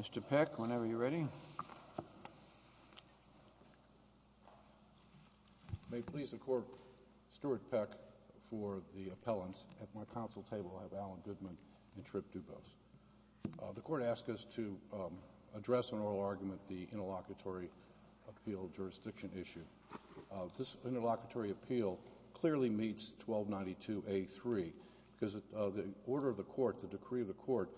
Mr. Peck, whenever you're ready. May it please the Court, Stuart Peck for the appellants. At my counsel table I have Alan Goodman and Tripp Dubose. The Court asks us to address an oral argument, the Interlocutory Appeal Jurisdiction Issue. This Interlocutory Appeal clearly meets 1292A3 because the order of the Court, the decree of the Court,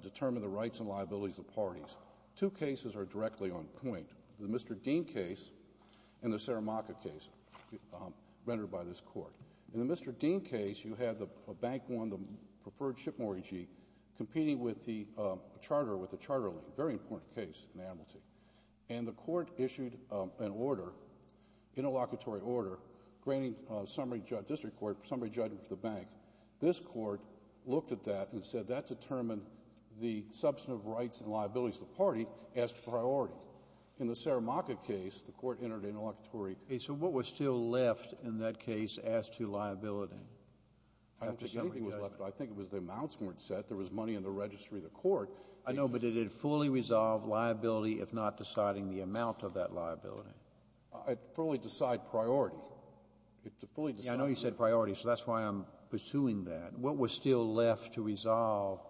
determined the rights and liabilities of parties. Two cases are directly on point, the Mr. Dean case and the Saramacca case rendered by this Court. In the Mr. Dean case, you had a bank on the preferred ship mortgagee competing with the charter, with the charter lien, a very important case in Amnesty. And the Court issued an order, Interlocutory Order, granting summary judgment to the bank. This Court looked at that and said that determined the substantive rights and liabilities of the party as to priority. In the Saramacca case, the Court entered Interlocutory Order. JUSTICE KENNEDY So what was still left in that case as to After summary judgment? MR. PECK I don't think anything was left. I think it was the amounts weren't set. There was money in the registry of the Court. JUSTICE KENNEDY I know, but it had fully resolved liability if not deciding the amount of that liability. MR. PECK I fully decide priority. It fully decided. JUSTICE KENNEDY Yeah, I know you said priority, so that's why I'm pursuing that. But what was still left to resolve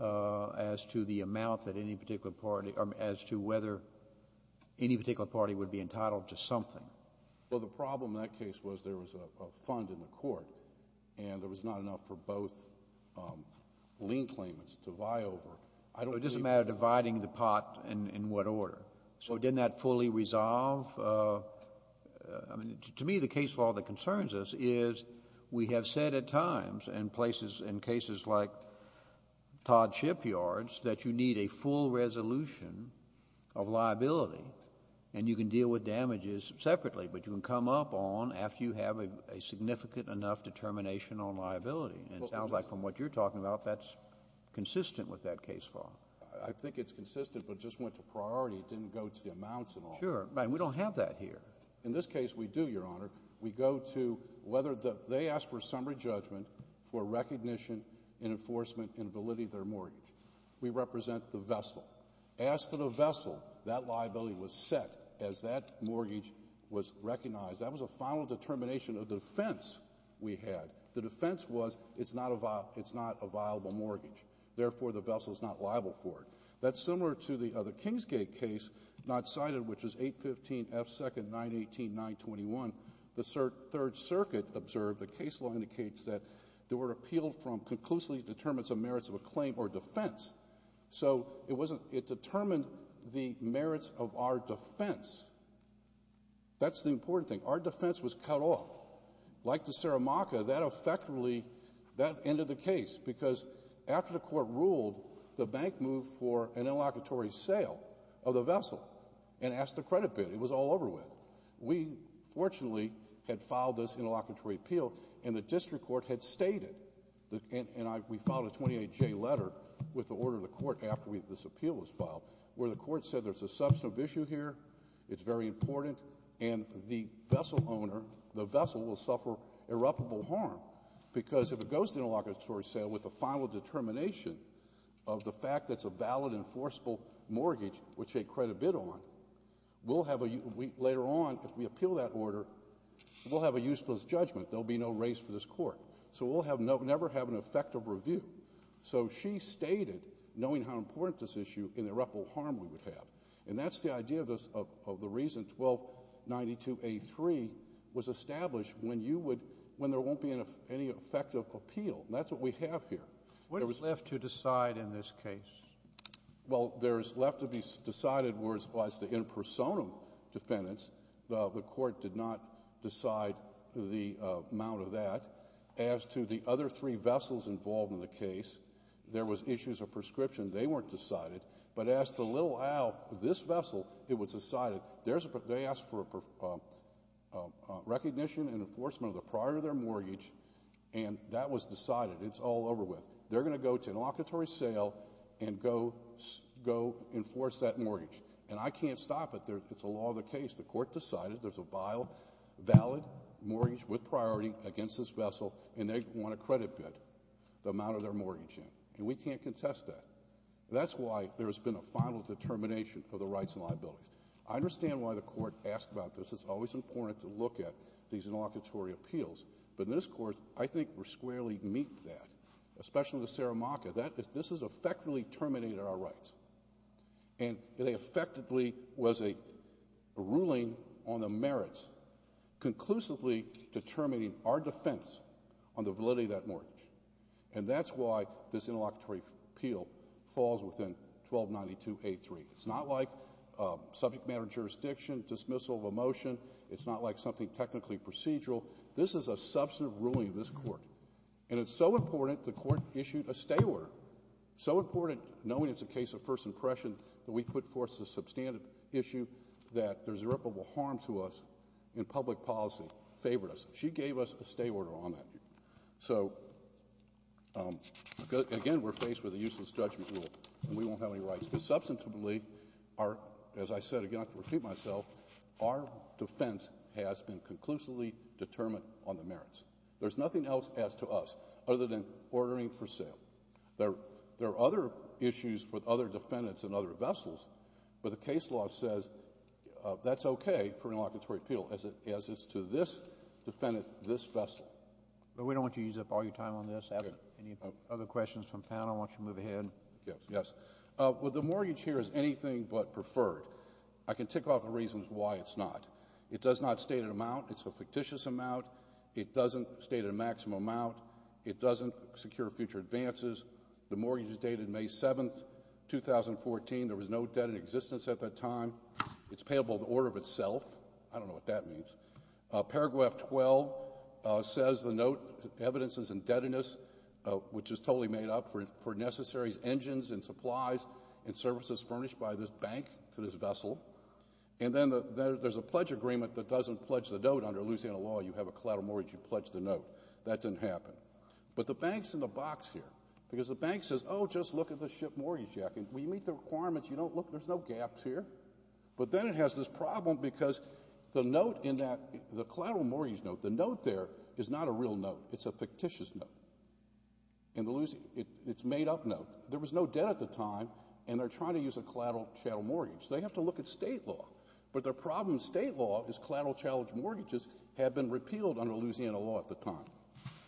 as to the amount that any particular party or as to whether any particular party would be entitled to something? MR. PECK Well, the problem in that case was there was a fund in the Court, and there was not enough for both lien claimants to vie over. I don't think the Court decided that. JUSTICE KENNEDY It doesn't matter dividing the pot in what order. So didn't that fully resolve? To me, the case law that concerns us is we have said at times in places, in cases like Todd Shipyard's, that you need a full resolution of liability, and you can deal with damages separately, but you can come up on after you have a significant enough determination on liability. It sounds like from what you're talking about, that's consistent with that case law. MR. PECK I think it's consistent, but it just went to priority. It didn't go to the amounts and all that. And we don't have that here. MR. PECK In this case, we do, Your Honor. We go to whether they ask for summary judgment for recognition, enforcement, and validity of their mortgage. We represent the vessel. As to the vessel, that liability was set as that mortgage was recognized. That was a final determination of the defense we had. The defense was it's not a viable mortgage, therefore, the vessel is not liable for it. That's similar to the other Kingsgate case not cited, which is 815 F. 2nd, 918.921. The Third Circuit observed, the case law indicates that they were appealed from conclusively determinants of merits of a claim or defense. So it wasn't, it determined the merits of our defense. That's the important thing. Our defense was cut off. Like the Saramaca, that effectively, that ended the case because after the court ruled, the bank moved for an interlocutory sale of the vessel and asked the credit bid. It was all over with. We fortunately had filed this interlocutory appeal, and the district court had stated, and we filed a 28J letter with the order of the court after this appeal was filed, where the court said there's a substantive issue here, it's very important, and the vessel owner, the vessel will suffer irreparable harm because if it goes to interlocutory sale with a final determination of the fact that it's a valid enforceable mortgage, which they credit bid on, we'll have a, later on, if we appeal that order, we'll have a useless judgment. There'll be no race for this court. So we'll never have an effective review. So she stated, knowing how important this issue, irreparable harm we would have. And that's the idea of the reason 1292A3 was established when you would, when there won't be any effective appeal. And that's what we have here. What is left to decide in this case? Well, there's left to be decided was the in personam defendants. The court did not decide the amount of that. As to the other three vessels involved in the case, there was issues of prescription. They weren't decided. But as to Little Al, this vessel, it was decided. They asked for recognition and enforcement of the priority of their mortgage, and that was decided. It's all over with. They're going to go to interlocutory sale and go enforce that mortgage. And I can't stop it. It's a law of the case. The court decided there's a valid mortgage with priority against this vessel, and they want to credit bid the amount of their mortgage in. And we can't contest that. That's why there's been a final determination of the rights and liabilities. I understand why the court asked about this. It's always important to look at these interlocutory appeals, but in this court, I think we're squarely meet that, especially with the Saramaca. This has effectively terminated our rights, and it effectively was a ruling on the merits conclusively determining our defense on the validity of that mortgage. And that's why this interlocutory appeal falls within 1292A3. It's not like subject matter jurisdiction, dismissal of a motion. It's not like something technically procedural. This is a substantive ruling of this court, and it's so important, the court issued a stay order. So important, knowing it's a case of first impression, that we put forth the substantive issue that there's irreparable harm to us in public policy, favored us. She gave us a stay order on that. So again, we're faced with a useless judgment rule, and we won't have any rights, because substantively, as I said, again, I have to repeat myself, our defense has been conclusively determined on the merits. There's nothing else as to us, other than ordering for sale. There are other issues with other defendants and other vessels, but the case law says that's okay for an interlocutory appeal, as it's to this defendant, this vessel. But we don't want you to use up all your time on this. Okay. Any other questions from the panel? Why don't you move ahead? Yes. Well, the mortgage here is anything but preferred. I can tick off the reasons why it's not. It does not state an amount. It's a fictitious amount. It doesn't state a maximum amount. It doesn't secure future advances. The mortgage is dated May 7th, 2014. There was no debt in existence at that time. It's payable the order of itself. I don't know what that means. Paragraph 12 says the note evidences indebtedness, which is totally made up for necessary engines and supplies and services furnished by this bank to this vessel. And then there's a pledge agreement that doesn't pledge the note. Under Louisiana law, you have a collateral mortgage, you pledge the note. That didn't happen. But the bank's in the box here, because the bank says, oh, just look at the ship mortgage check. And we meet the requirements. You don't look. There's no gaps here. But then it has this problem, because the note in that, the collateral mortgage note, the note there is not a real note. It's a fictitious note. In Louisiana, it's a made-up note. There was no debt at the time, and they're trying to use a collateral chattel mortgage. They have to look at state law. But their problem in state law is collateral chattel mortgages had been repealed under Louisiana law at the time.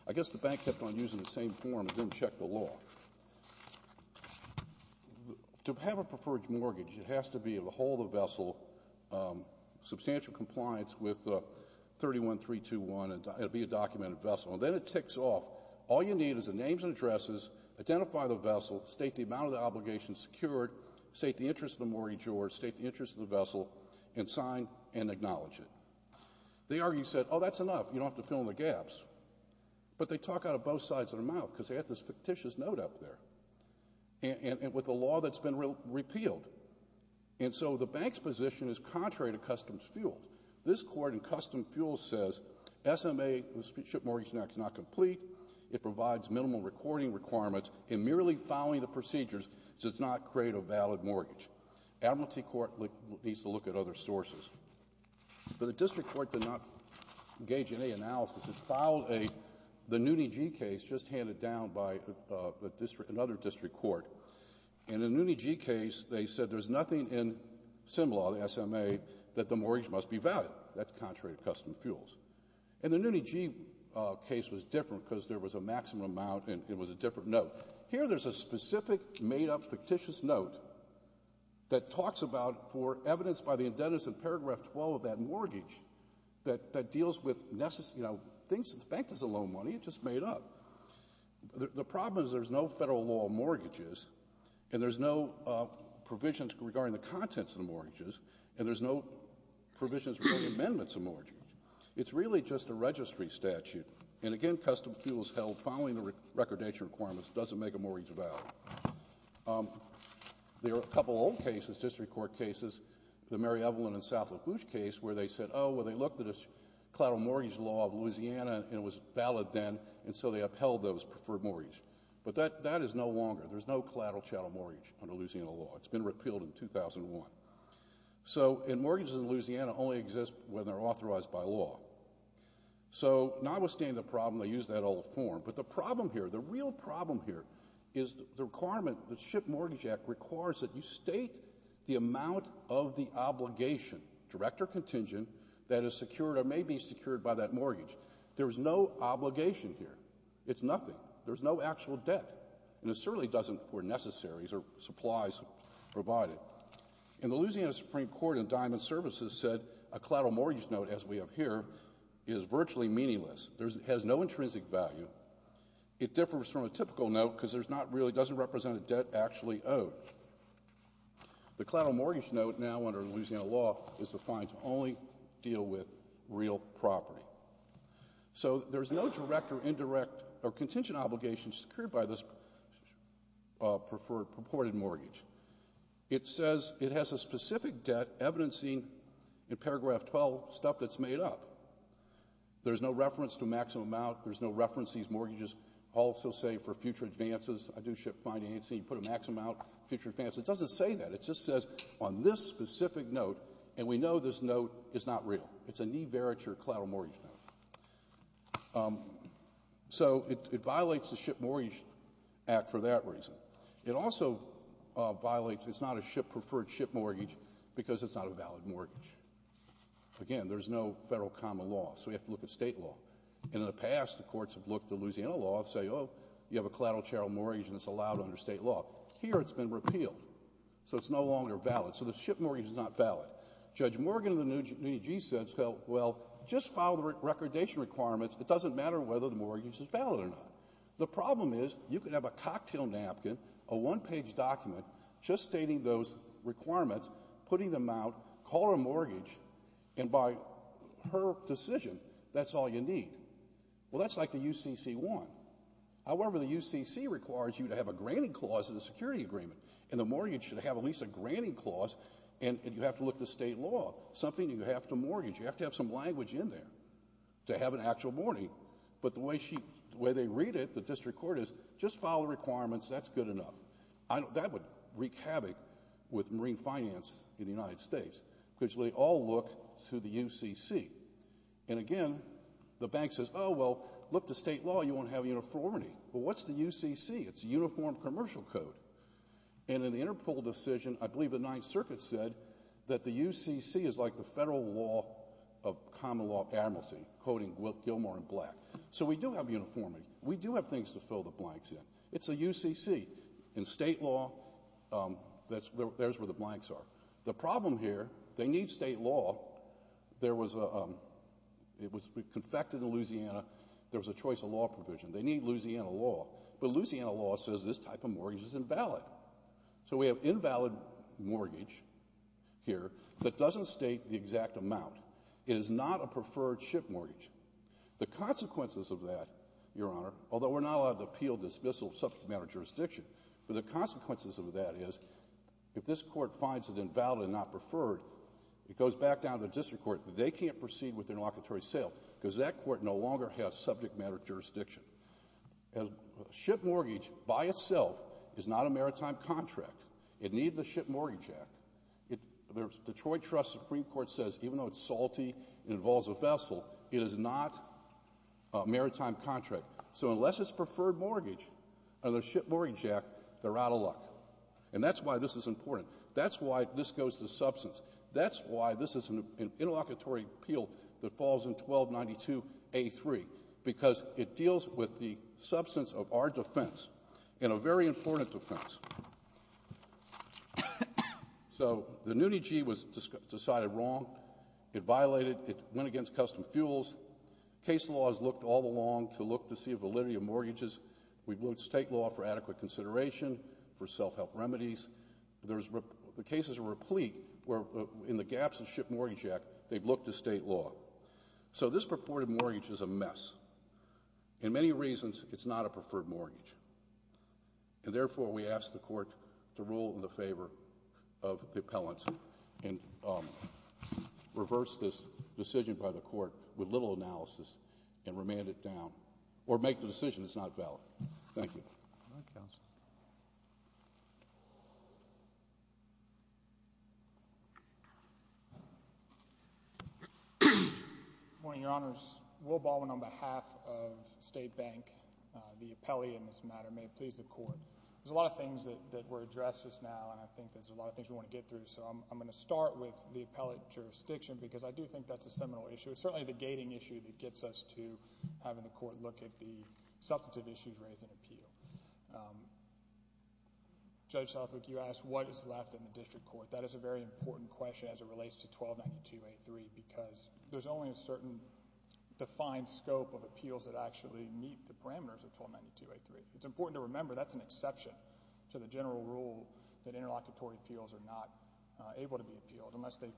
I guess the bank kept on using the same form and didn't check the law. To have a preferred mortgage, it has to be able to hold the vessel, substantial compliance with 31.321, and it'll be a documented vessel. And then it ticks off. All you need is the names and addresses, identify the vessel, state the amount of the obligation secured, state the interest of the mortgage or state the interest of the vessel, and sign and acknowledge it. They argue, you said, oh, that's enough. You don't have to fill in the gaps. But they talk out of both sides of their mouth, because they have this fictitious note up there, and with a law that's been repealed. And so the bank's position is contrary to Customs Fuels. This court in Customs Fuels says, SMA, the Spinship Mortgage Act, is not complete. It provides minimal recording requirements, and merely following the procedures does not create a valid mortgage. Admiralty Court needs to look at other sources. But the district court did not engage in any analysis. It filed a, the NUNI-G case just handed down by another district court. And in the NUNI-G case, they said there's nothing in sim law, the SMA, that the mortgage must be valid. That's contrary to Customs Fuels. And the NUNI-G case was different, because there was a maximum amount, and it was a different note. Here, there's a specific, made-up, fictitious note that talks about, for evidence by the indebtedness in paragraph 12 of that mortgage, that deals with, you know, things, the bank doesn't loan money. It's just made up. The problem is, there's no federal law on mortgages, and there's no provisions regarding the contents of the mortgages, and there's no provisions regarding amendments of mortgages. It's really just a registry statute. And again, Customs Fuels held following the recordation requirements doesn't make a mortgage valid. There are a couple old cases, district court cases, the Mary Evelyn and South Lafourche case, where they said, oh, well, they looked at a collateral mortgage law of Louisiana, and it was valid then, and so they upheld those for a mortgage. But that is no longer, there's no collateral chattel mortgage under Louisiana law. It's been repealed in 2001. So, and mortgages in Louisiana only exist when they're authorized by law. So notwithstanding the problem, they used that old form, but the problem here, the real problem here is the requirement, the SHIP Mortgage Act requires that you state the amount of the obligation, direct or contingent, that is secured or may be secured by that mortgage. There's no obligation here. It's nothing. There's no actual debt. And it certainly doesn't for necessaries or supplies provided. And the Louisiana Supreme Court and Diamond Services said a collateral mortgage note, as we have here, is virtually meaningless. There's, has no intrinsic value. It differs from a typical note because there's not really, doesn't represent a debt actually owed. The collateral mortgage note now under Louisiana law is defined to only deal with real property. So, there's no direct or indirect or contingent obligations secured by this purported mortgage. It says it has a specific debt evidencing in paragraph 12 stuff that's made up. There's no reference to maximum amount. There's no reference, these mortgages also say for future advances, I do SHIP financing, put a maximum amount, future advances. It doesn't say that. It just says on this specific note, and we know this note is not real. It's a knee veriture collateral mortgage note. So it violates the SHIP Mortgage Act for that reason. It also violates, it's not a SHIP preferred SHIP mortgage because it's not a valid mortgage. Again, there's no federal common law, so we have to look at state law. And in the past, the courts have looked at the Louisiana law and say, oh, you have a collateral charitable mortgage and it's allowed under state law. Here it's been repealed. So it's no longer valid. So the SHIP mortgage is not valid. Judge Morgan of the New Jesus said, well, just file the recordation requirements. It doesn't matter whether the mortgage is valid or not. The problem is, you could have a cocktail napkin, a one-page document, just stating those requirements, putting them out, call her a mortgage, and by her decision, that's all you need. Well, that's like the UCC-1. However, the UCC requires you to have a granting clause in the security agreement and the mortgage should have at least a granting clause and you have to look to state law. Something you have to mortgage. You have to have some language in there to have an actual mortgage. But the way she, the way they read it, the district court is, just file the requirements, that's good enough. I don't, that would wreak havoc with marine finance in the United States because they all look to the UCC. And again, the bank says, oh, well, look to state law, you won't have uniformity. Well, what's the UCC? It's a uniform commercial code. And in the Interpol decision, I believe the Ninth Circuit said that the UCC is like the federal law of common law of amnesty, quoting Gilmore and Black. So we do have uniformity. We do have things to fill the blanks in. It's a UCC. In state law, that's, there's where the blanks are. The problem here, they need state law. There was a, it was confected in Louisiana, there was a choice of law provision. They need Louisiana law, but Louisiana law says this type of mortgage is invalid. So we have invalid mortgage here that doesn't state the exact amount. It is not a preferred ship mortgage. The consequences of that, Your Honor, although we're not allowed to appeal dismissal of subject matter jurisdiction, but the consequences of that is, if this court finds it invalid and not preferred, it goes back down to the district court. They can't proceed with the interlocutory sale because that court no longer has subject matter jurisdiction. Ship mortgage by itself is not a maritime contract. It needed the Ship Mortgage Act. Detroit Trust Supreme Court says even though it's salty, it involves a vessel, it is not a maritime contract. So unless it's preferred mortgage under the Ship Mortgage Act, they're out of luck. And that's why this is important. That's why this goes to substance. That's why this is an interlocutory appeal that falls in 1292A3, because it deals with the substance of our defense, and a very important defense. So the NUNIG was decided wrong. It violated. It went against custom fuels. Case law has looked all along to look to see validity of mortgages. We've looked at state law for adequate consideration, for self-help remedies. The cases are replete where in the gaps of the Ship Mortgage Act, they've looked to state law. So this purported mortgage is a mess. In many reasons, it's not a preferred mortgage. And therefore, we ask the court to rule in the favor of the appellants and reverse this decision by the court with little analysis and remand it down, or make the decision that's not valid. Thank you. Thank you, counsel. Good morning, your Honors. Will Baldwin on behalf of State Bank, the appellee in this matter, may it please the court. There's a lot of things that were addressed just now, and I think there's a lot of things we want to get through. So I'm going to start with the appellate jurisdiction, because I do think that's a seminal issue. It's certainly the gating issue that gets us to having the court look at the substantive issues raised in appeal. Judge Southwick, you asked what is left in the district court. That is a very important question as it relates to 1292A3, because there's only a certain defined scope of appeals that actually meet the parameters of 1292A3. It's important to remember that's an exception to the general rule that interlocutory appeals are not able to be appealed unless they,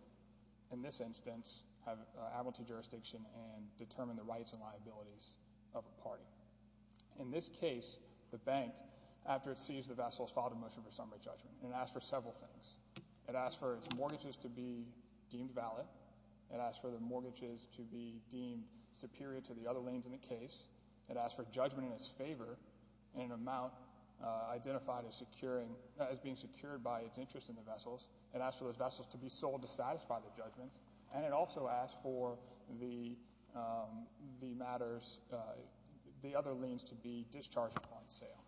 in this instance, have appellate jurisdiction and determine the rights and liabilities of a party. In this case, the bank, after it seized the vessels, filed a motion for summary judgment, and it asked for several things. It asked for its mortgages to be deemed valid. It asked for the mortgages to be deemed superior to the other liens in the case. It asked for judgment in its favor in an amount identified as being secured by its interest in the vessels. It asked for those vessels to be sold to satisfy the judgments. And it also asked for the matters, the other liens to be discharged upon sale.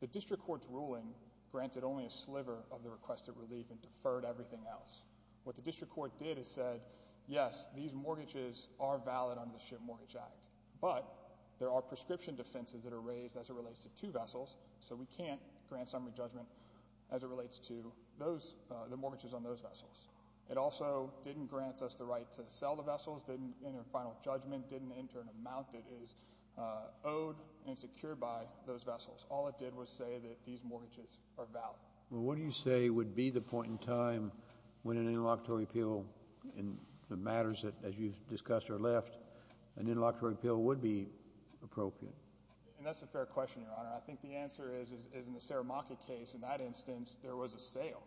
The district court's ruling granted only a sliver of the requested relief and deferred everything else. What the district court did is said, yes, these mortgages are valid under the Ship Mortgage Act, but there are prescription defenses that are raised as it relates to two vessels, so we can't grant summary judgment as it relates to the mortgages on those vessels. It also didn't grant us the right to sell the vessels, didn't enter final judgment, didn't enter an amount that is owed and secured by those vessels. All it did was say that these mortgages are valid. Well, what do you say would be the point in time when an interlocutory appeal in the matters that, as you've discussed, are left, an interlocutory appeal would be appropriate? And that's a fair question, Your Honor. I think the answer is, in the Saramacca case, in that instance, there was a sale.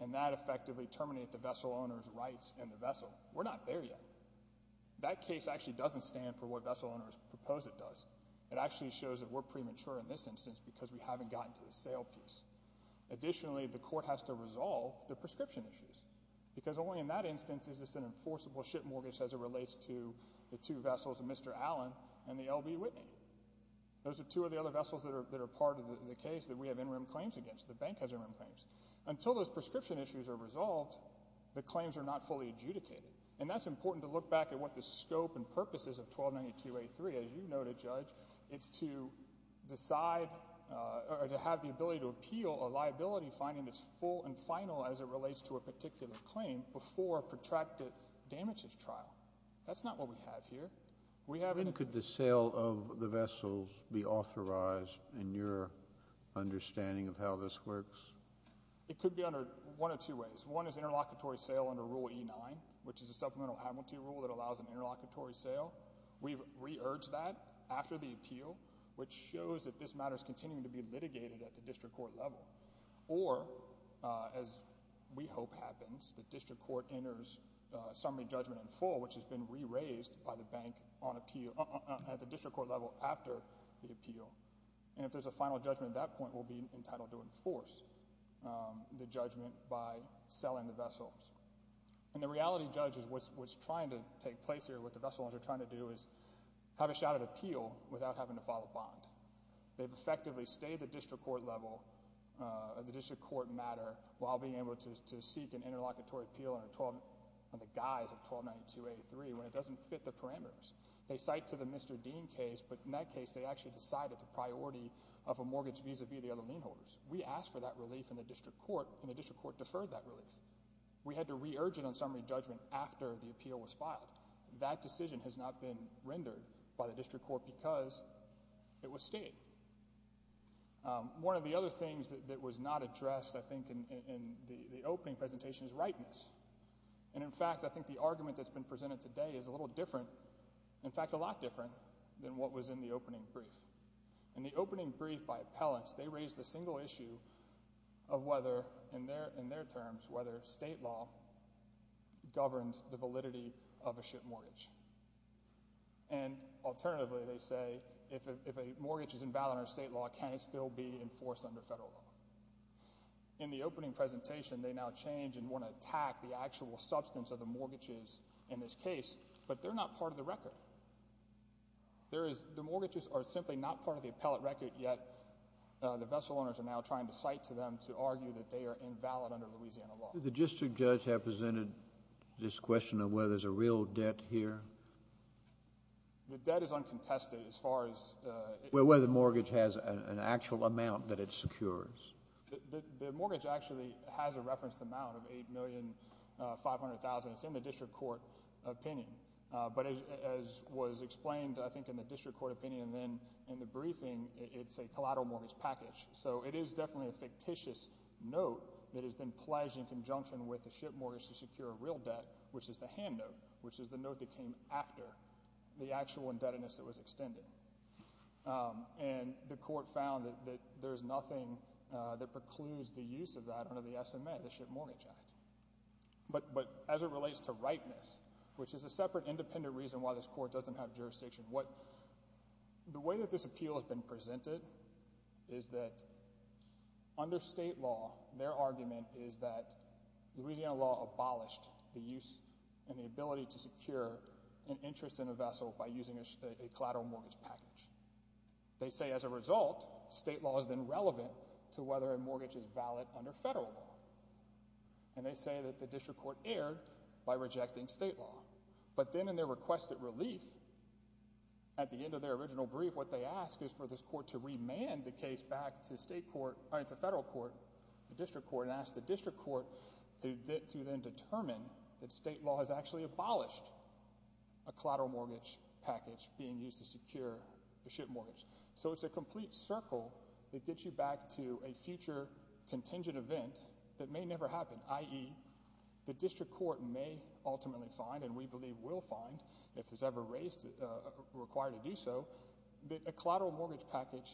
And that effectively terminated the vessel owner's rights in the vessel. We're not there yet. That case actually doesn't stand for what Vessel Owner's Proposal does. It actually shows that we're premature in this instance because we haven't gotten to the sale piece. Additionally, the court has to resolve the prescription issues, because only in that instance is this an enforceable ship mortgage as it relates to the two vessels, Mr. Allen and the L.B. Whitney. Those are two of the other vessels that are part of the case that we have in-room claims against, the bank has in-room claims. Until those prescription issues are resolved, the claims are not fully adjudicated. And that's important to look back at what the scope and purpose is of 1292A3. As you noted, Judge, it's to decide or to have the ability to appeal a liability finding that's full and final as it relates to a particular claim before a protracted damages trial. That's not what we have here. We have in- When could the sale of the vessels be authorized in your understanding of how this works? It could be under one of two ways. One is interlocutory sale under Rule E9, which is a supplemental amnesty rule that allows an interlocutory sale. We've re-urged that after the appeal, which shows that this matter is continuing to be litigated at the district court level. Or as we hope happens, the district court enters summary judgment in full, which has been re-raised by the bank on appeal at the district court level after the appeal. And if there's a final judgment at that point, we'll be entitled to enforce the judgment by selling the vessels. And the reality, Judge, is what's trying to take place here, what the vessels are trying to do is have a shouted appeal without having to file a bond. They've effectively stayed at the district court level, the district court matter, while being able to seek an interlocutory appeal on the guise of 1292.83, when it doesn't fit the parameters. They cite to the Mr. Dean case, but in that case, they actually decided the priority of a mortgage vis-a-vis the other lien holders. We asked for that relief in the district court, and the district court deferred that relief. We had to re-urge it on summary judgment after the appeal was filed. That decision has not been rendered by the district court because it was stayed. One of the other things that was not addressed, I think, in the opening presentation is rightness. And in fact, I think the argument that's been presented today is a little different, in fact a lot different, than what was in the opening brief. In the opening brief by appellants, they raised the single issue of whether, in their terms, whether state law governs the validity of a ship mortgage. And alternatively, they say, if a mortgage is invalid under state law, can it still be enforced under federal law? In the opening presentation, they now change and want to attack the actual substance of the mortgages in this case, but they're not part of the record. There is, the mortgages are simply not part of the appellate record, yet the vessel owners are now trying to cite to them to argue that they are invalid under Louisiana law. The district judge has presented this question of whether there's a real debt here. The debt is uncontested as far as... Well, whether the mortgage has an actual amount that it secures. The mortgage actually has a referenced amount of $8,500,000, it's in the district court opinion. But as was explained, I think, in the district court opinion, then in the briefing, it's a collateral mortgage package. So it is definitely a fictitious note that is then pledged in conjunction with the ship mortgage to secure a real debt, which is the hand note, which is the note that came after the actual indebtedness that was extended. And the court found that there's nothing that precludes the use of that under the SMA, the Ship Mortgage Act. But as it relates to ripeness, which is a separate independent reason why this court doesn't have jurisdiction. What... the way that this appeal has been presented is that under state law, their argument is that Louisiana law abolished the use and the ability to secure an interest in a vessel by using a collateral mortgage package. They say as a result, state law has been relevant to whether a mortgage is valid under federal law. And they say that the district court erred by rejecting state law. But then in their requested relief, at the end of their original brief, what they ask is for this court to remand the case back to state court... all right, to federal court, the district court, and ask the district court to then determine that state law has actually abolished a collateral mortgage package being used to secure a ship mortgage. So it's a complete circle that gets you back to a future contingent event that may never happen, i.e., the district court may ultimately find, and we believe will find if it's ever raised... required to do so, that a collateral mortgage package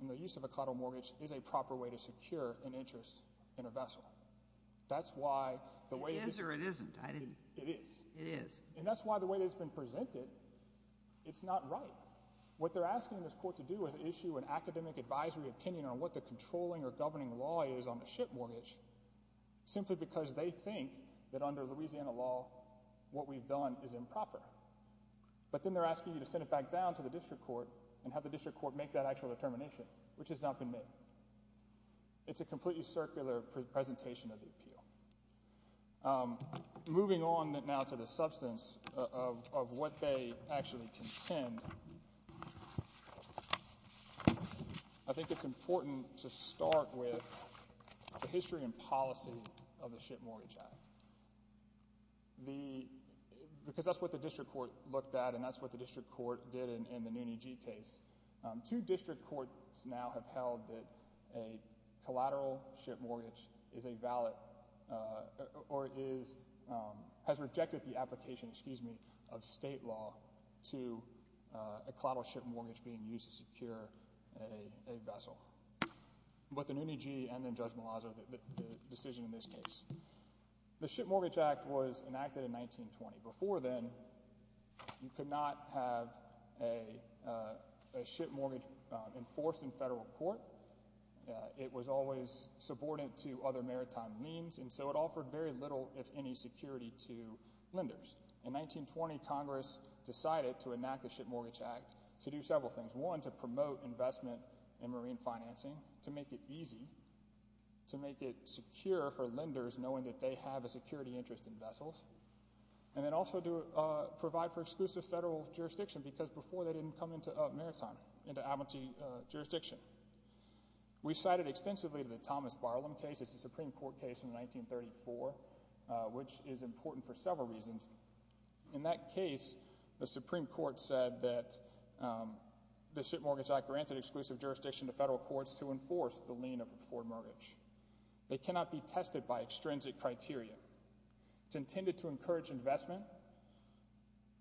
and the use of a collateral mortgage is a proper way to secure an interest in a vessel. That's why the way... It is or it isn't. I didn't... It is. It is. And that's why the way that it's been presented, it's not right. What they're asking this court to do is issue an academic advisory opinion on what the controlling or governing law is on the ship mortgage, simply because they think that under Louisiana law what we've done is improper. But then they're asking you to send it back down to the district court and have the district court make that actual determination, which has not been made. It's a completely circular presentation of the appeal. Moving on now to the substance of what they actually contend, I think it's important to start with the history and policy of the Ship Mortgage Act, because that's what the district court looked at, and that's what the district court did in the Noonee Gee case. Two district courts now have held that a collateral ship mortgage is a valid... or is... has rejected the application, excuse me, of state law to a collateral ship mortgage being used to secure a vessel, with the Noonee Gee and then Judge Malazzo, the decision in this case. The Ship Mortgage Act was enacted in 1920. Before then, you could not have a ship mortgage enforced in federal court. It was always subordinate to other maritime means, and so it offered very little, if any, security to lenders. In 1920, Congress decided to enact the Ship Mortgage Act to do several things. One, to promote investment in marine financing, to make it easy, to make it secure for lenders knowing that they have a security interest in vessels, and then also to provide for exclusive federal jurisdiction, because before they didn't come into maritime, into Abentee jurisdiction. We cited extensively the Thomas Barlum case, it's a Supreme Court case from 1934, which is important for several reasons. In that case, the Supreme Court said that the Ship Mortgage Act granted exclusive jurisdiction to federal courts to enforce the lien for mortgage. It cannot be tested by extrinsic criteria. It's intended to encourage investment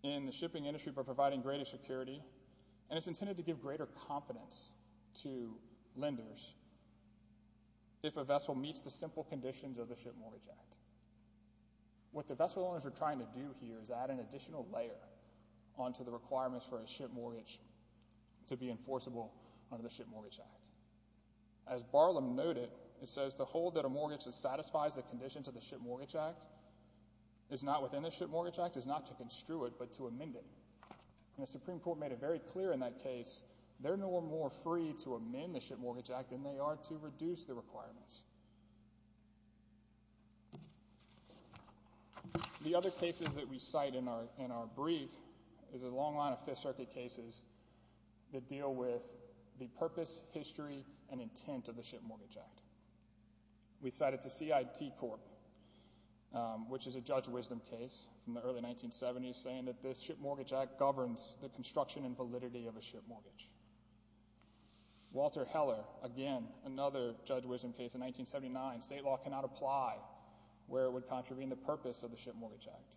in the shipping industry by providing greater security, and it's intended to give greater confidence to lenders if a vessel meets the simple conditions of the Ship Mortgage Act. What the vessel owners are trying to do here is add an additional layer onto the requirements for a ship mortgage to be enforceable under the Ship Mortgage Act. As Barlum noted, it says to hold that a mortgage that satisfies the conditions of the Ship Mortgage Act is not within the Ship Mortgage Act is not to construe it, but to amend it. And the Supreme Court made it very clear in that case, they're no more free to amend the The other cases that we cite in our brief is a long line of Fifth Circuit cases that deal with the purpose, history, and intent of the Ship Mortgage Act. We cited the CIT court, which is a Judge Wisdom case from the early 1970s, saying that this Ship Mortgage Act governs the construction and validity of a ship mortgage. Walter Heller, again, another Judge Wisdom case in 1979, state law cannot apply where it would contravene the purpose of the Ship Mortgage Act.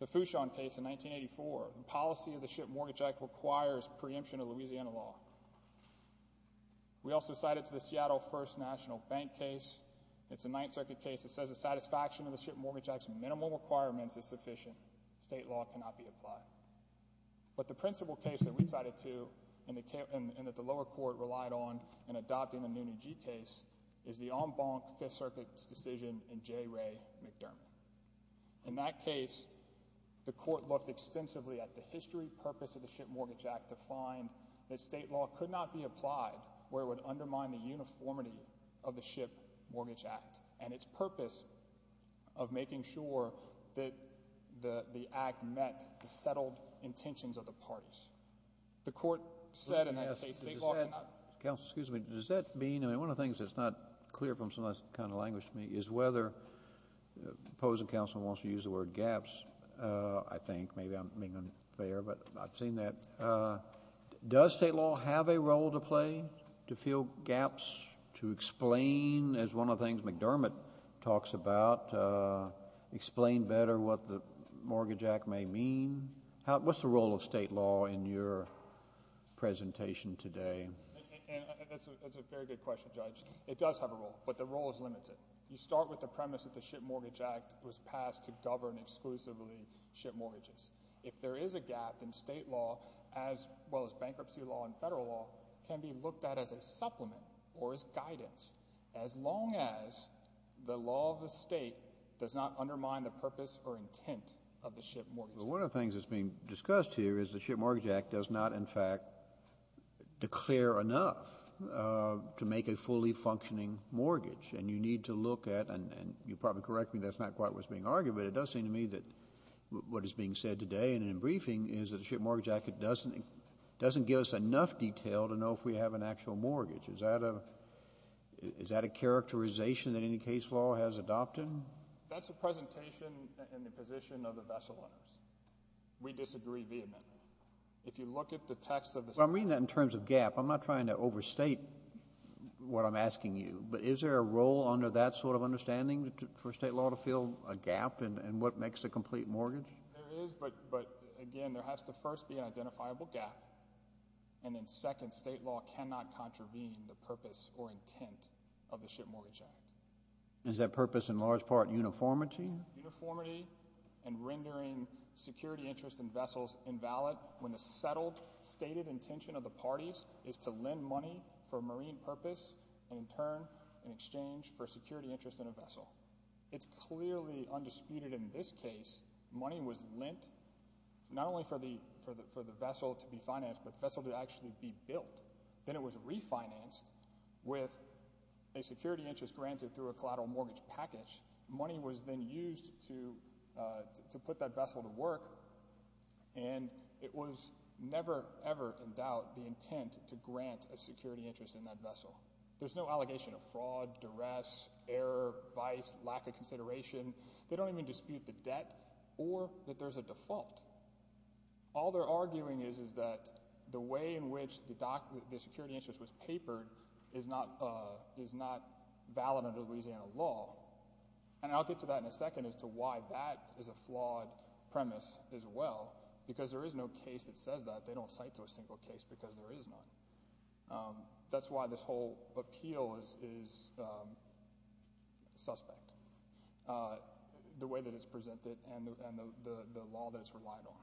The Fouchon case in 1984, the policy of the Ship Mortgage Act requires preemption of Louisiana law. We also cite it to the Seattle First National Bank case. It's a Ninth Circuit case that says the satisfaction of the Ship Mortgage Act's minimum requirements is sufficient. State law cannot be applied. But the principal case that we cited to, and that the lower court relied on in adopting the Noonan G case, is the en banc Fifth Circuit's decision in J. Ray McDermott. In that case, the court looked extensively at the history, purpose of the Ship Mortgage Act to find that state law could not be applied where it would undermine the uniformity of the Ship Mortgage Act. And its purpose of making sure that the act met the settled intentions of the parties. The court said in that case, state law could not. Counsel, excuse me. Does that mean, I mean, one of the things that's not clear from some of this kind of language to me is whether the opposing counsel wants to use the word gaps, I think, maybe I'm being unfair, but I've seen that. Does state law have a role to play to fill gaps, to explain, as one of the things McDermott talks about, explain better what the Mortgage Act may mean? What's the role of state law in your presentation today? It's a very good question, Judge. It does have a role, but the role is limited. You start with the premise that the Ship Mortgage Act was passed to govern exclusively ship mortgages. If there is a gap, then state law, as well as bankruptcy law and federal law, can be looked at as a supplement or as guidance, as long as the law of the state does not undermine the purpose or intent of the Ship Mortgage Act. One of the things that's being discussed here is the Ship Mortgage Act does not, in fact, declare enough to make a fully functioning mortgage, and you need to look at, and you probably correct me, that's not quite what's being argued, but it does seem to me that what is being said today in a briefing is that the Ship Mortgage Act doesn't give us enough detail to know if we have an actual mortgage. Is that a characterization that any case law has adopted? That's a presentation in the position of the vessel owners. We disagree vehemently. If you look at the text of the statute— I'm reading that in terms of gap. I'm not trying to overstate what I'm asking you, but is there a role under that sort of There is, but again, there has to first be an identifiable gap, and then second, state law cannot contravene the purpose or intent of the Ship Mortgage Act. Is that purpose in large part uniformity? Uniformity and rendering security interest in vessels invalid when the settled, stated intention of the parties is to lend money for marine purpose, and in turn, in exchange for security interest in a vessel. It's clearly undisputed in this case, money was lent not only for the vessel to be financed, but the vessel to actually be built. Then it was refinanced with a security interest granted through a collateral mortgage package. Money was then used to put that vessel to work, and it was never, ever in doubt the There's no allegation of fraud, duress, error, vice, lack of consideration. They don't even dispute the debt or that there's a default. All they're arguing is that the way in which the security interest was papered is not valid under Louisiana law, and I'll get to that in a second as to why that is a flawed premise as well, because there is no case that says that. They don't cite to a single case because there is none. That's why this whole appeal is suspect, the way that it's presented and the law that it's relied on.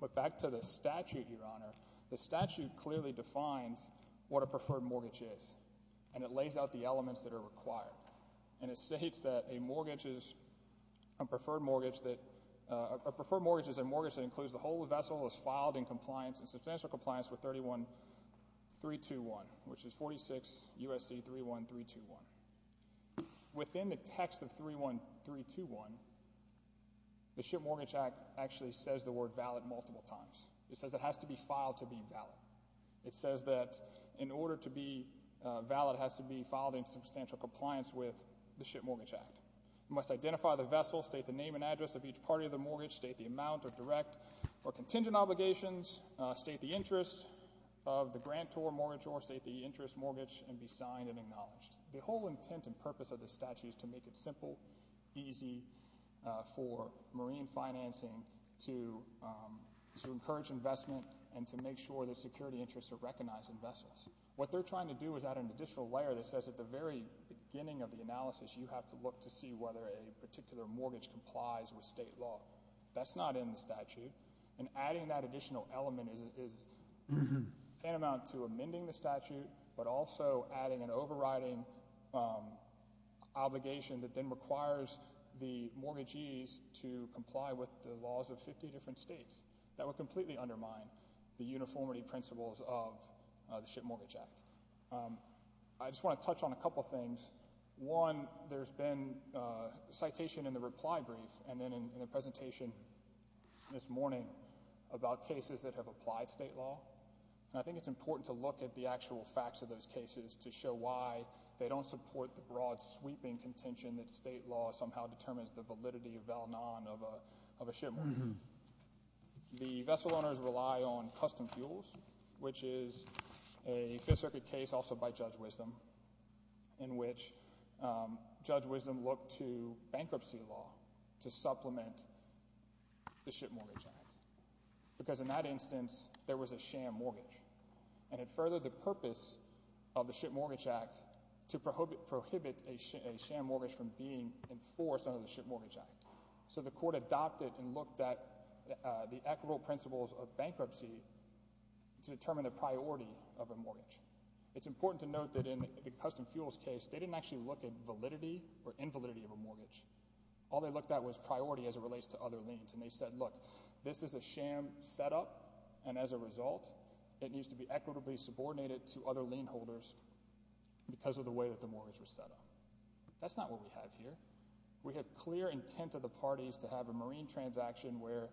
But back to the statute, Your Honor. The statute clearly defines what a preferred mortgage is, and it lays out the elements that are required, and it states that a preferred mortgage is a mortgage that includes the whole of the vessel as filed in compliance and substantial compliance with 31321, which is 46 U.S.C. 31321. Within the text of 31321, the Ship Mortgage Act actually says the word valid multiple times. It says it has to be filed to be valid. It says that in order to be valid, it has to be filed in substantial compliance with the Ship Mortgage Act. You must identify the vessel, state the name and address of each party of the mortgage, state the amount of direct or contingent obligations, state the interest of the grant or mortgage or state the interest mortgage, and be signed and acknowledged. The whole intent and purpose of the statute is to make it simple, easy for marine financing to encourage investment and to make sure that security interests are recognized in vessels. What they're trying to do is add an additional layer that says at the very beginning of the That's not in the statute. And adding that additional element is tantamount to amending the statute, but also adding an overriding obligation that then requires the mortgagees to comply with the laws of 50 different states. That would completely undermine the uniformity principles of the Ship Mortgage Act. I just want to touch on a couple of things. One, there's been a citation in the reply brief and then in the presentation this morning about cases that have applied state law. I think it's important to look at the actual facts of those cases to show why they don't support the broad sweeping contention that state law somehow determines the validity of Val Non of a ship. The vessel owners rely on custom fuels, which is a Fifth Circuit case also by Judge Wisdom in which Judge Wisdom looked to bankruptcy law to supplement the Ship Mortgage Act. Because in that instance, there was a sham mortgage, and it furthered the purpose of the Ship Mortgage Act to prohibit a sham mortgage from being enforced under the Ship Mortgage Act. So the court adopted and looked at the equitable principles of bankruptcy to determine the priority of a mortgage. It's important to note that in the custom fuels case, they didn't actually look at validity or invalidity of a mortgage. All they looked at was priority as it relates to other liens, and they said, look, this is a sham setup, and as a result, it needs to be equitably subordinated to other lien holders because of the way that the mortgage was set up. That's not what we have here. We have clear intent of the parties to have a marine transaction where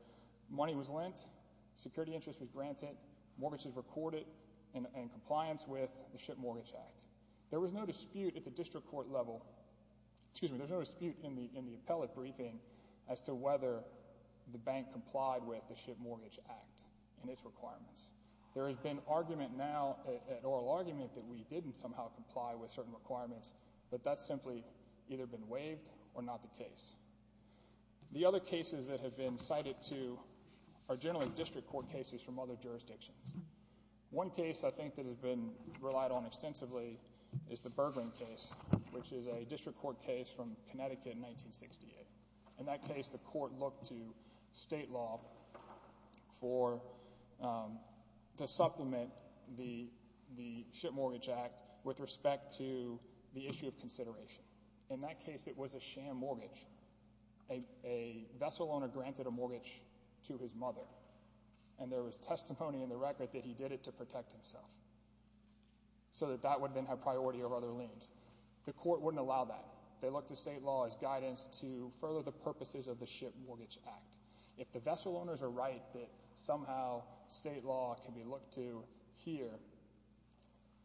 money was lent, security interest was granted, mortgages were courted in compliance with the Ship Mortgage Act. There was no dispute at the district court level—excuse me, there was no dispute in the appellate briefing as to whether the bank complied with the Ship Mortgage Act and its requirements. There has been argument now, an oral argument, that we didn't somehow comply with certain requirements, but that's simply either been waived or not the case. The other cases that have been cited, too, are generally district court cases from other jurisdictions. One case, I think, that has been relied on extensively is the Bergman case, which is a district court case from Connecticut in 1968. In that case, the court looked to state law for—to supplement the Ship Mortgage Act with respect to the issue of consideration. In that case, it was a sham mortgage. A vessel owner granted a mortgage to his mother, and there was testimony in the record that he did it to protect himself, so that that would then have priority over other liens. The court wouldn't allow that. They looked to state law as guidance to further the purposes of the Ship Mortgage Act. If the vessel owners are right that somehow state law can be looked to here,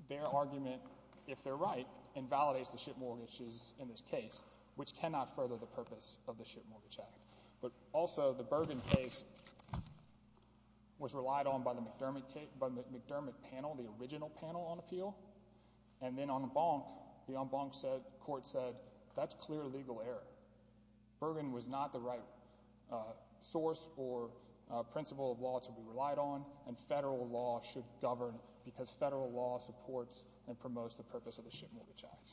their argument, if they're right, invalidates the ship mortgages in this case, which cannot further the purpose of the Ship Mortgage Act. But also, the Bergman case was relied on by the McDermott panel, the original panel on appeal, and then en banc, the en banc court said, that's clear legal error. Bergman was not the right source or principle of law to be relied on, and federal law should promote the purpose of the Ship Mortgage Act.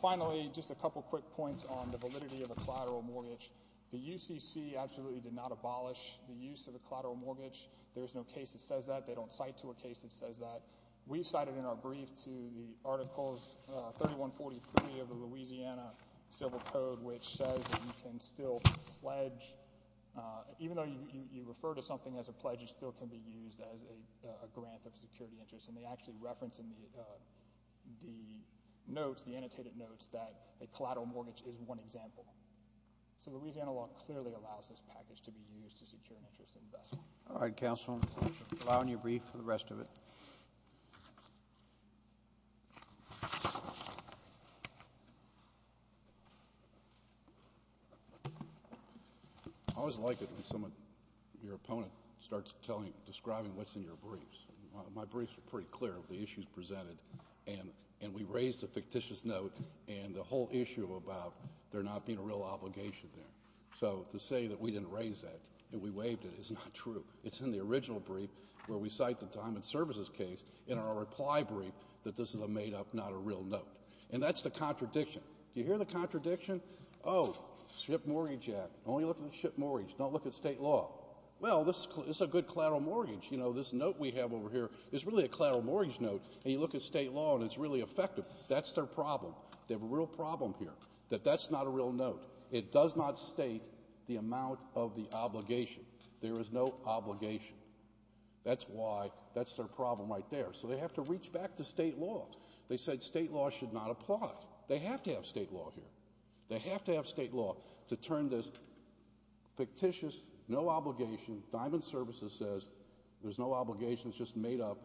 Finally, just a couple quick points on the validity of a collateral mortgage. The UCC absolutely did not abolish the use of a collateral mortgage. There is no case that says that. They don't cite to a case that says that. We cited in our brief to the Articles 3143 of the Louisiana Civil Code, which says that you can still pledge—even though you refer to something as a pledge, it still can be used as a grant of security interest, and they actually reference in the, uh, the notes, the annotated notes, that a collateral mortgage is one example. So Louisiana law clearly allows this package to be used to secure an interest in the vessel. All right, Counsel. Allow me to brief for the rest of it. I always like it when someone—your opponent—starts telling, describing what's in your briefs. My briefs are pretty clear of the issues presented, and we raise the fictitious note and the whole issue about there not being a real obligation there. So to say that we didn't raise that and we waived it is not true. It's in the original brief where we cite the Diamond Services case in our reply brief that this is a made-up, not a real note. And that's the contradiction. Do you hear the contradiction? Oh, ship mortgage act, only look at the ship mortgage, don't look at state law. Well, this is a good collateral mortgage. You know, this note we have over here is really a collateral mortgage note, and you look at state law and it's really effective. That's their problem. They have a real problem here, that that's not a real note. It does not state the amount of the obligation. There is no obligation. That's why—that's their problem right there. So they have to reach back to state law. They said state law should not apply. They have to have state law here. They have to have state law to turn this fictitious, no obligation, Diamond Services says there's no obligation, it's just made up,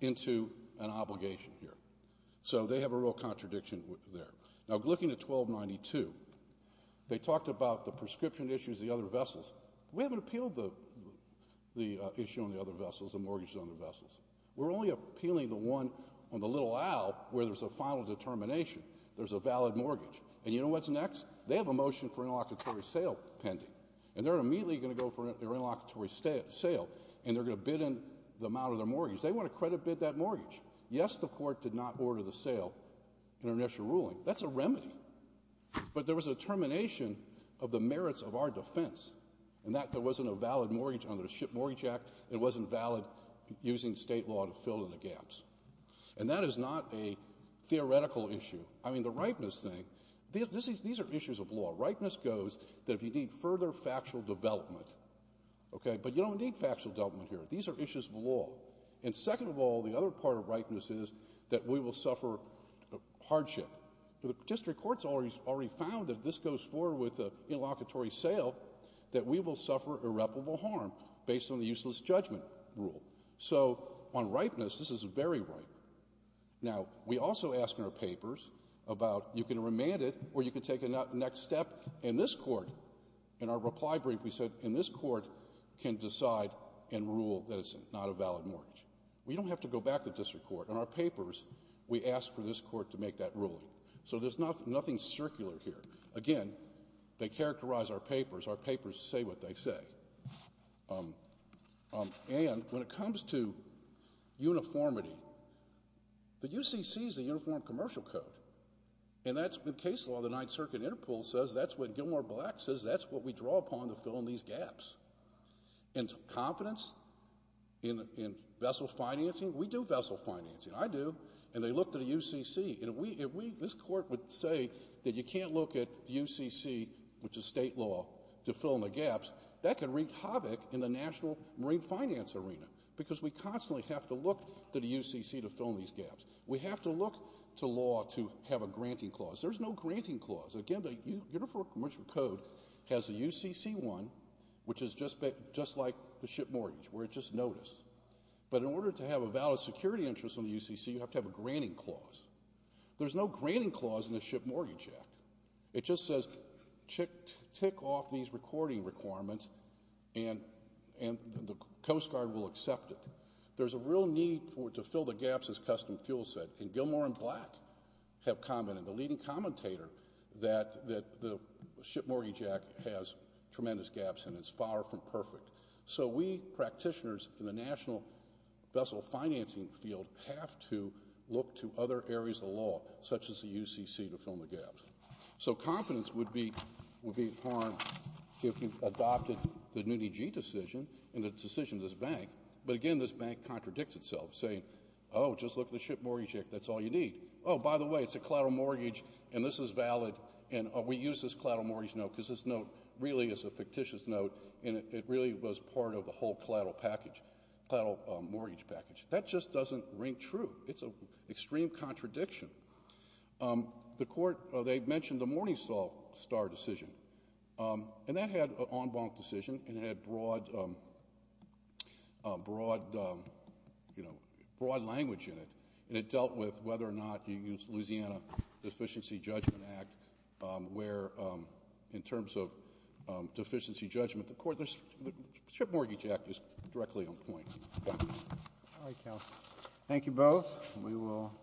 into an obligation here. So they have a real contradiction there. Now looking at 1292, they talked about the prescription issues, the other vessels. We haven't appealed the issue on the other vessels, the mortgages on the vessels. We're only appealing the one on the little owl where there's a final determination, there's a valid mortgage. And you know what's next? They have a motion for interlocutory sale pending, and they're immediately going to go for their interlocutory sale, and they're going to bid in the amount of their mortgage. They want to credit bid that mortgage. Yes, the court did not order the sale in their initial ruling. That's a remedy. But there was a determination of the merits of our defense, and that there wasn't a valid mortgage under the SHIP Mortgage Act, it wasn't valid using state law to fill in the gaps. And that is not a theoretical issue. I mean, the rightness thing, these are issues of law. Rightness goes that if you need further factual development, okay, but you don't need factual development here. These are issues of law. And second of all, the other part of rightness is that we will suffer hardship. The district court's already found that if this goes forward with an interlocutory sale, that we will suffer irreparable harm based on the useless judgment rule. So on rightness, this is very right. Now, we also ask in our papers about, you can remand it, or you can take a next step in this court. In our reply brief, we said, in this court, can decide and rule that it's not a valid mortgage. We don't have to go back to district court. In our papers, we ask for this court to make that ruling. So there's nothing circular here. Again, they characterize our papers. Our papers say what they say. And when it comes to uniformity, the UCC is a uniform commercial code. And that's, in case law, the Ninth Circuit Interpol says that's what Gilmore Black says that's what we draw upon to fill in these gaps. And confidence in vessel financing, we do vessel financing, I do, and they look to the UCC. And if we, this court would say that you can't look at the UCC, which is state law, to fill in the gaps, that could wreak havoc in the national marine finance arena. Because we constantly have to look to the UCC to fill in these gaps. We have to look to law to have a granting clause. There's no granting clause. Again, the uniform commercial code has a UCC one, which is just like the ship mortgage, where it just notices. But in order to have a valid security interest on the UCC, you have to have a granting clause. There's no granting clause in the Ship Mortgage Act. It just says tick off these recording requirements, and the Coast Guard will accept it. There's a real need to fill the gaps, as Customs Fuels said, and Gilmore and Black have commented, the leading commentator, that the Ship Mortgage Act has tremendous gaps in it. It's far from perfect. So we practitioners in the national vessel financing field have to look to other areas of law, such as the UCC, to fill in the gaps. So confidence would be harmed if you adopted the NUNIG decision and the decision of this bank. But again, this bank contradicts itself, saying, oh, just look at the Ship Mortgage Act. That's all you need. Oh, by the way, it's a collateral mortgage, and this is valid, and we use this collateral mortgage note, because this note really is a fictitious note, and it really was part of the whole collateral package, collateral mortgage package. That just doesn't ring true. It's an extreme contradiction. The Court, they mentioned the Morningstar decision, and that had an en banc decision and it had broad language in it, and it dealt with whether or not you use the Louisiana Deficiency Judgment Act, where in terms of deficiency judgment, the Ship Mortgage Act is directly on point. Thank you. All right, counsel. Thank you both. We will.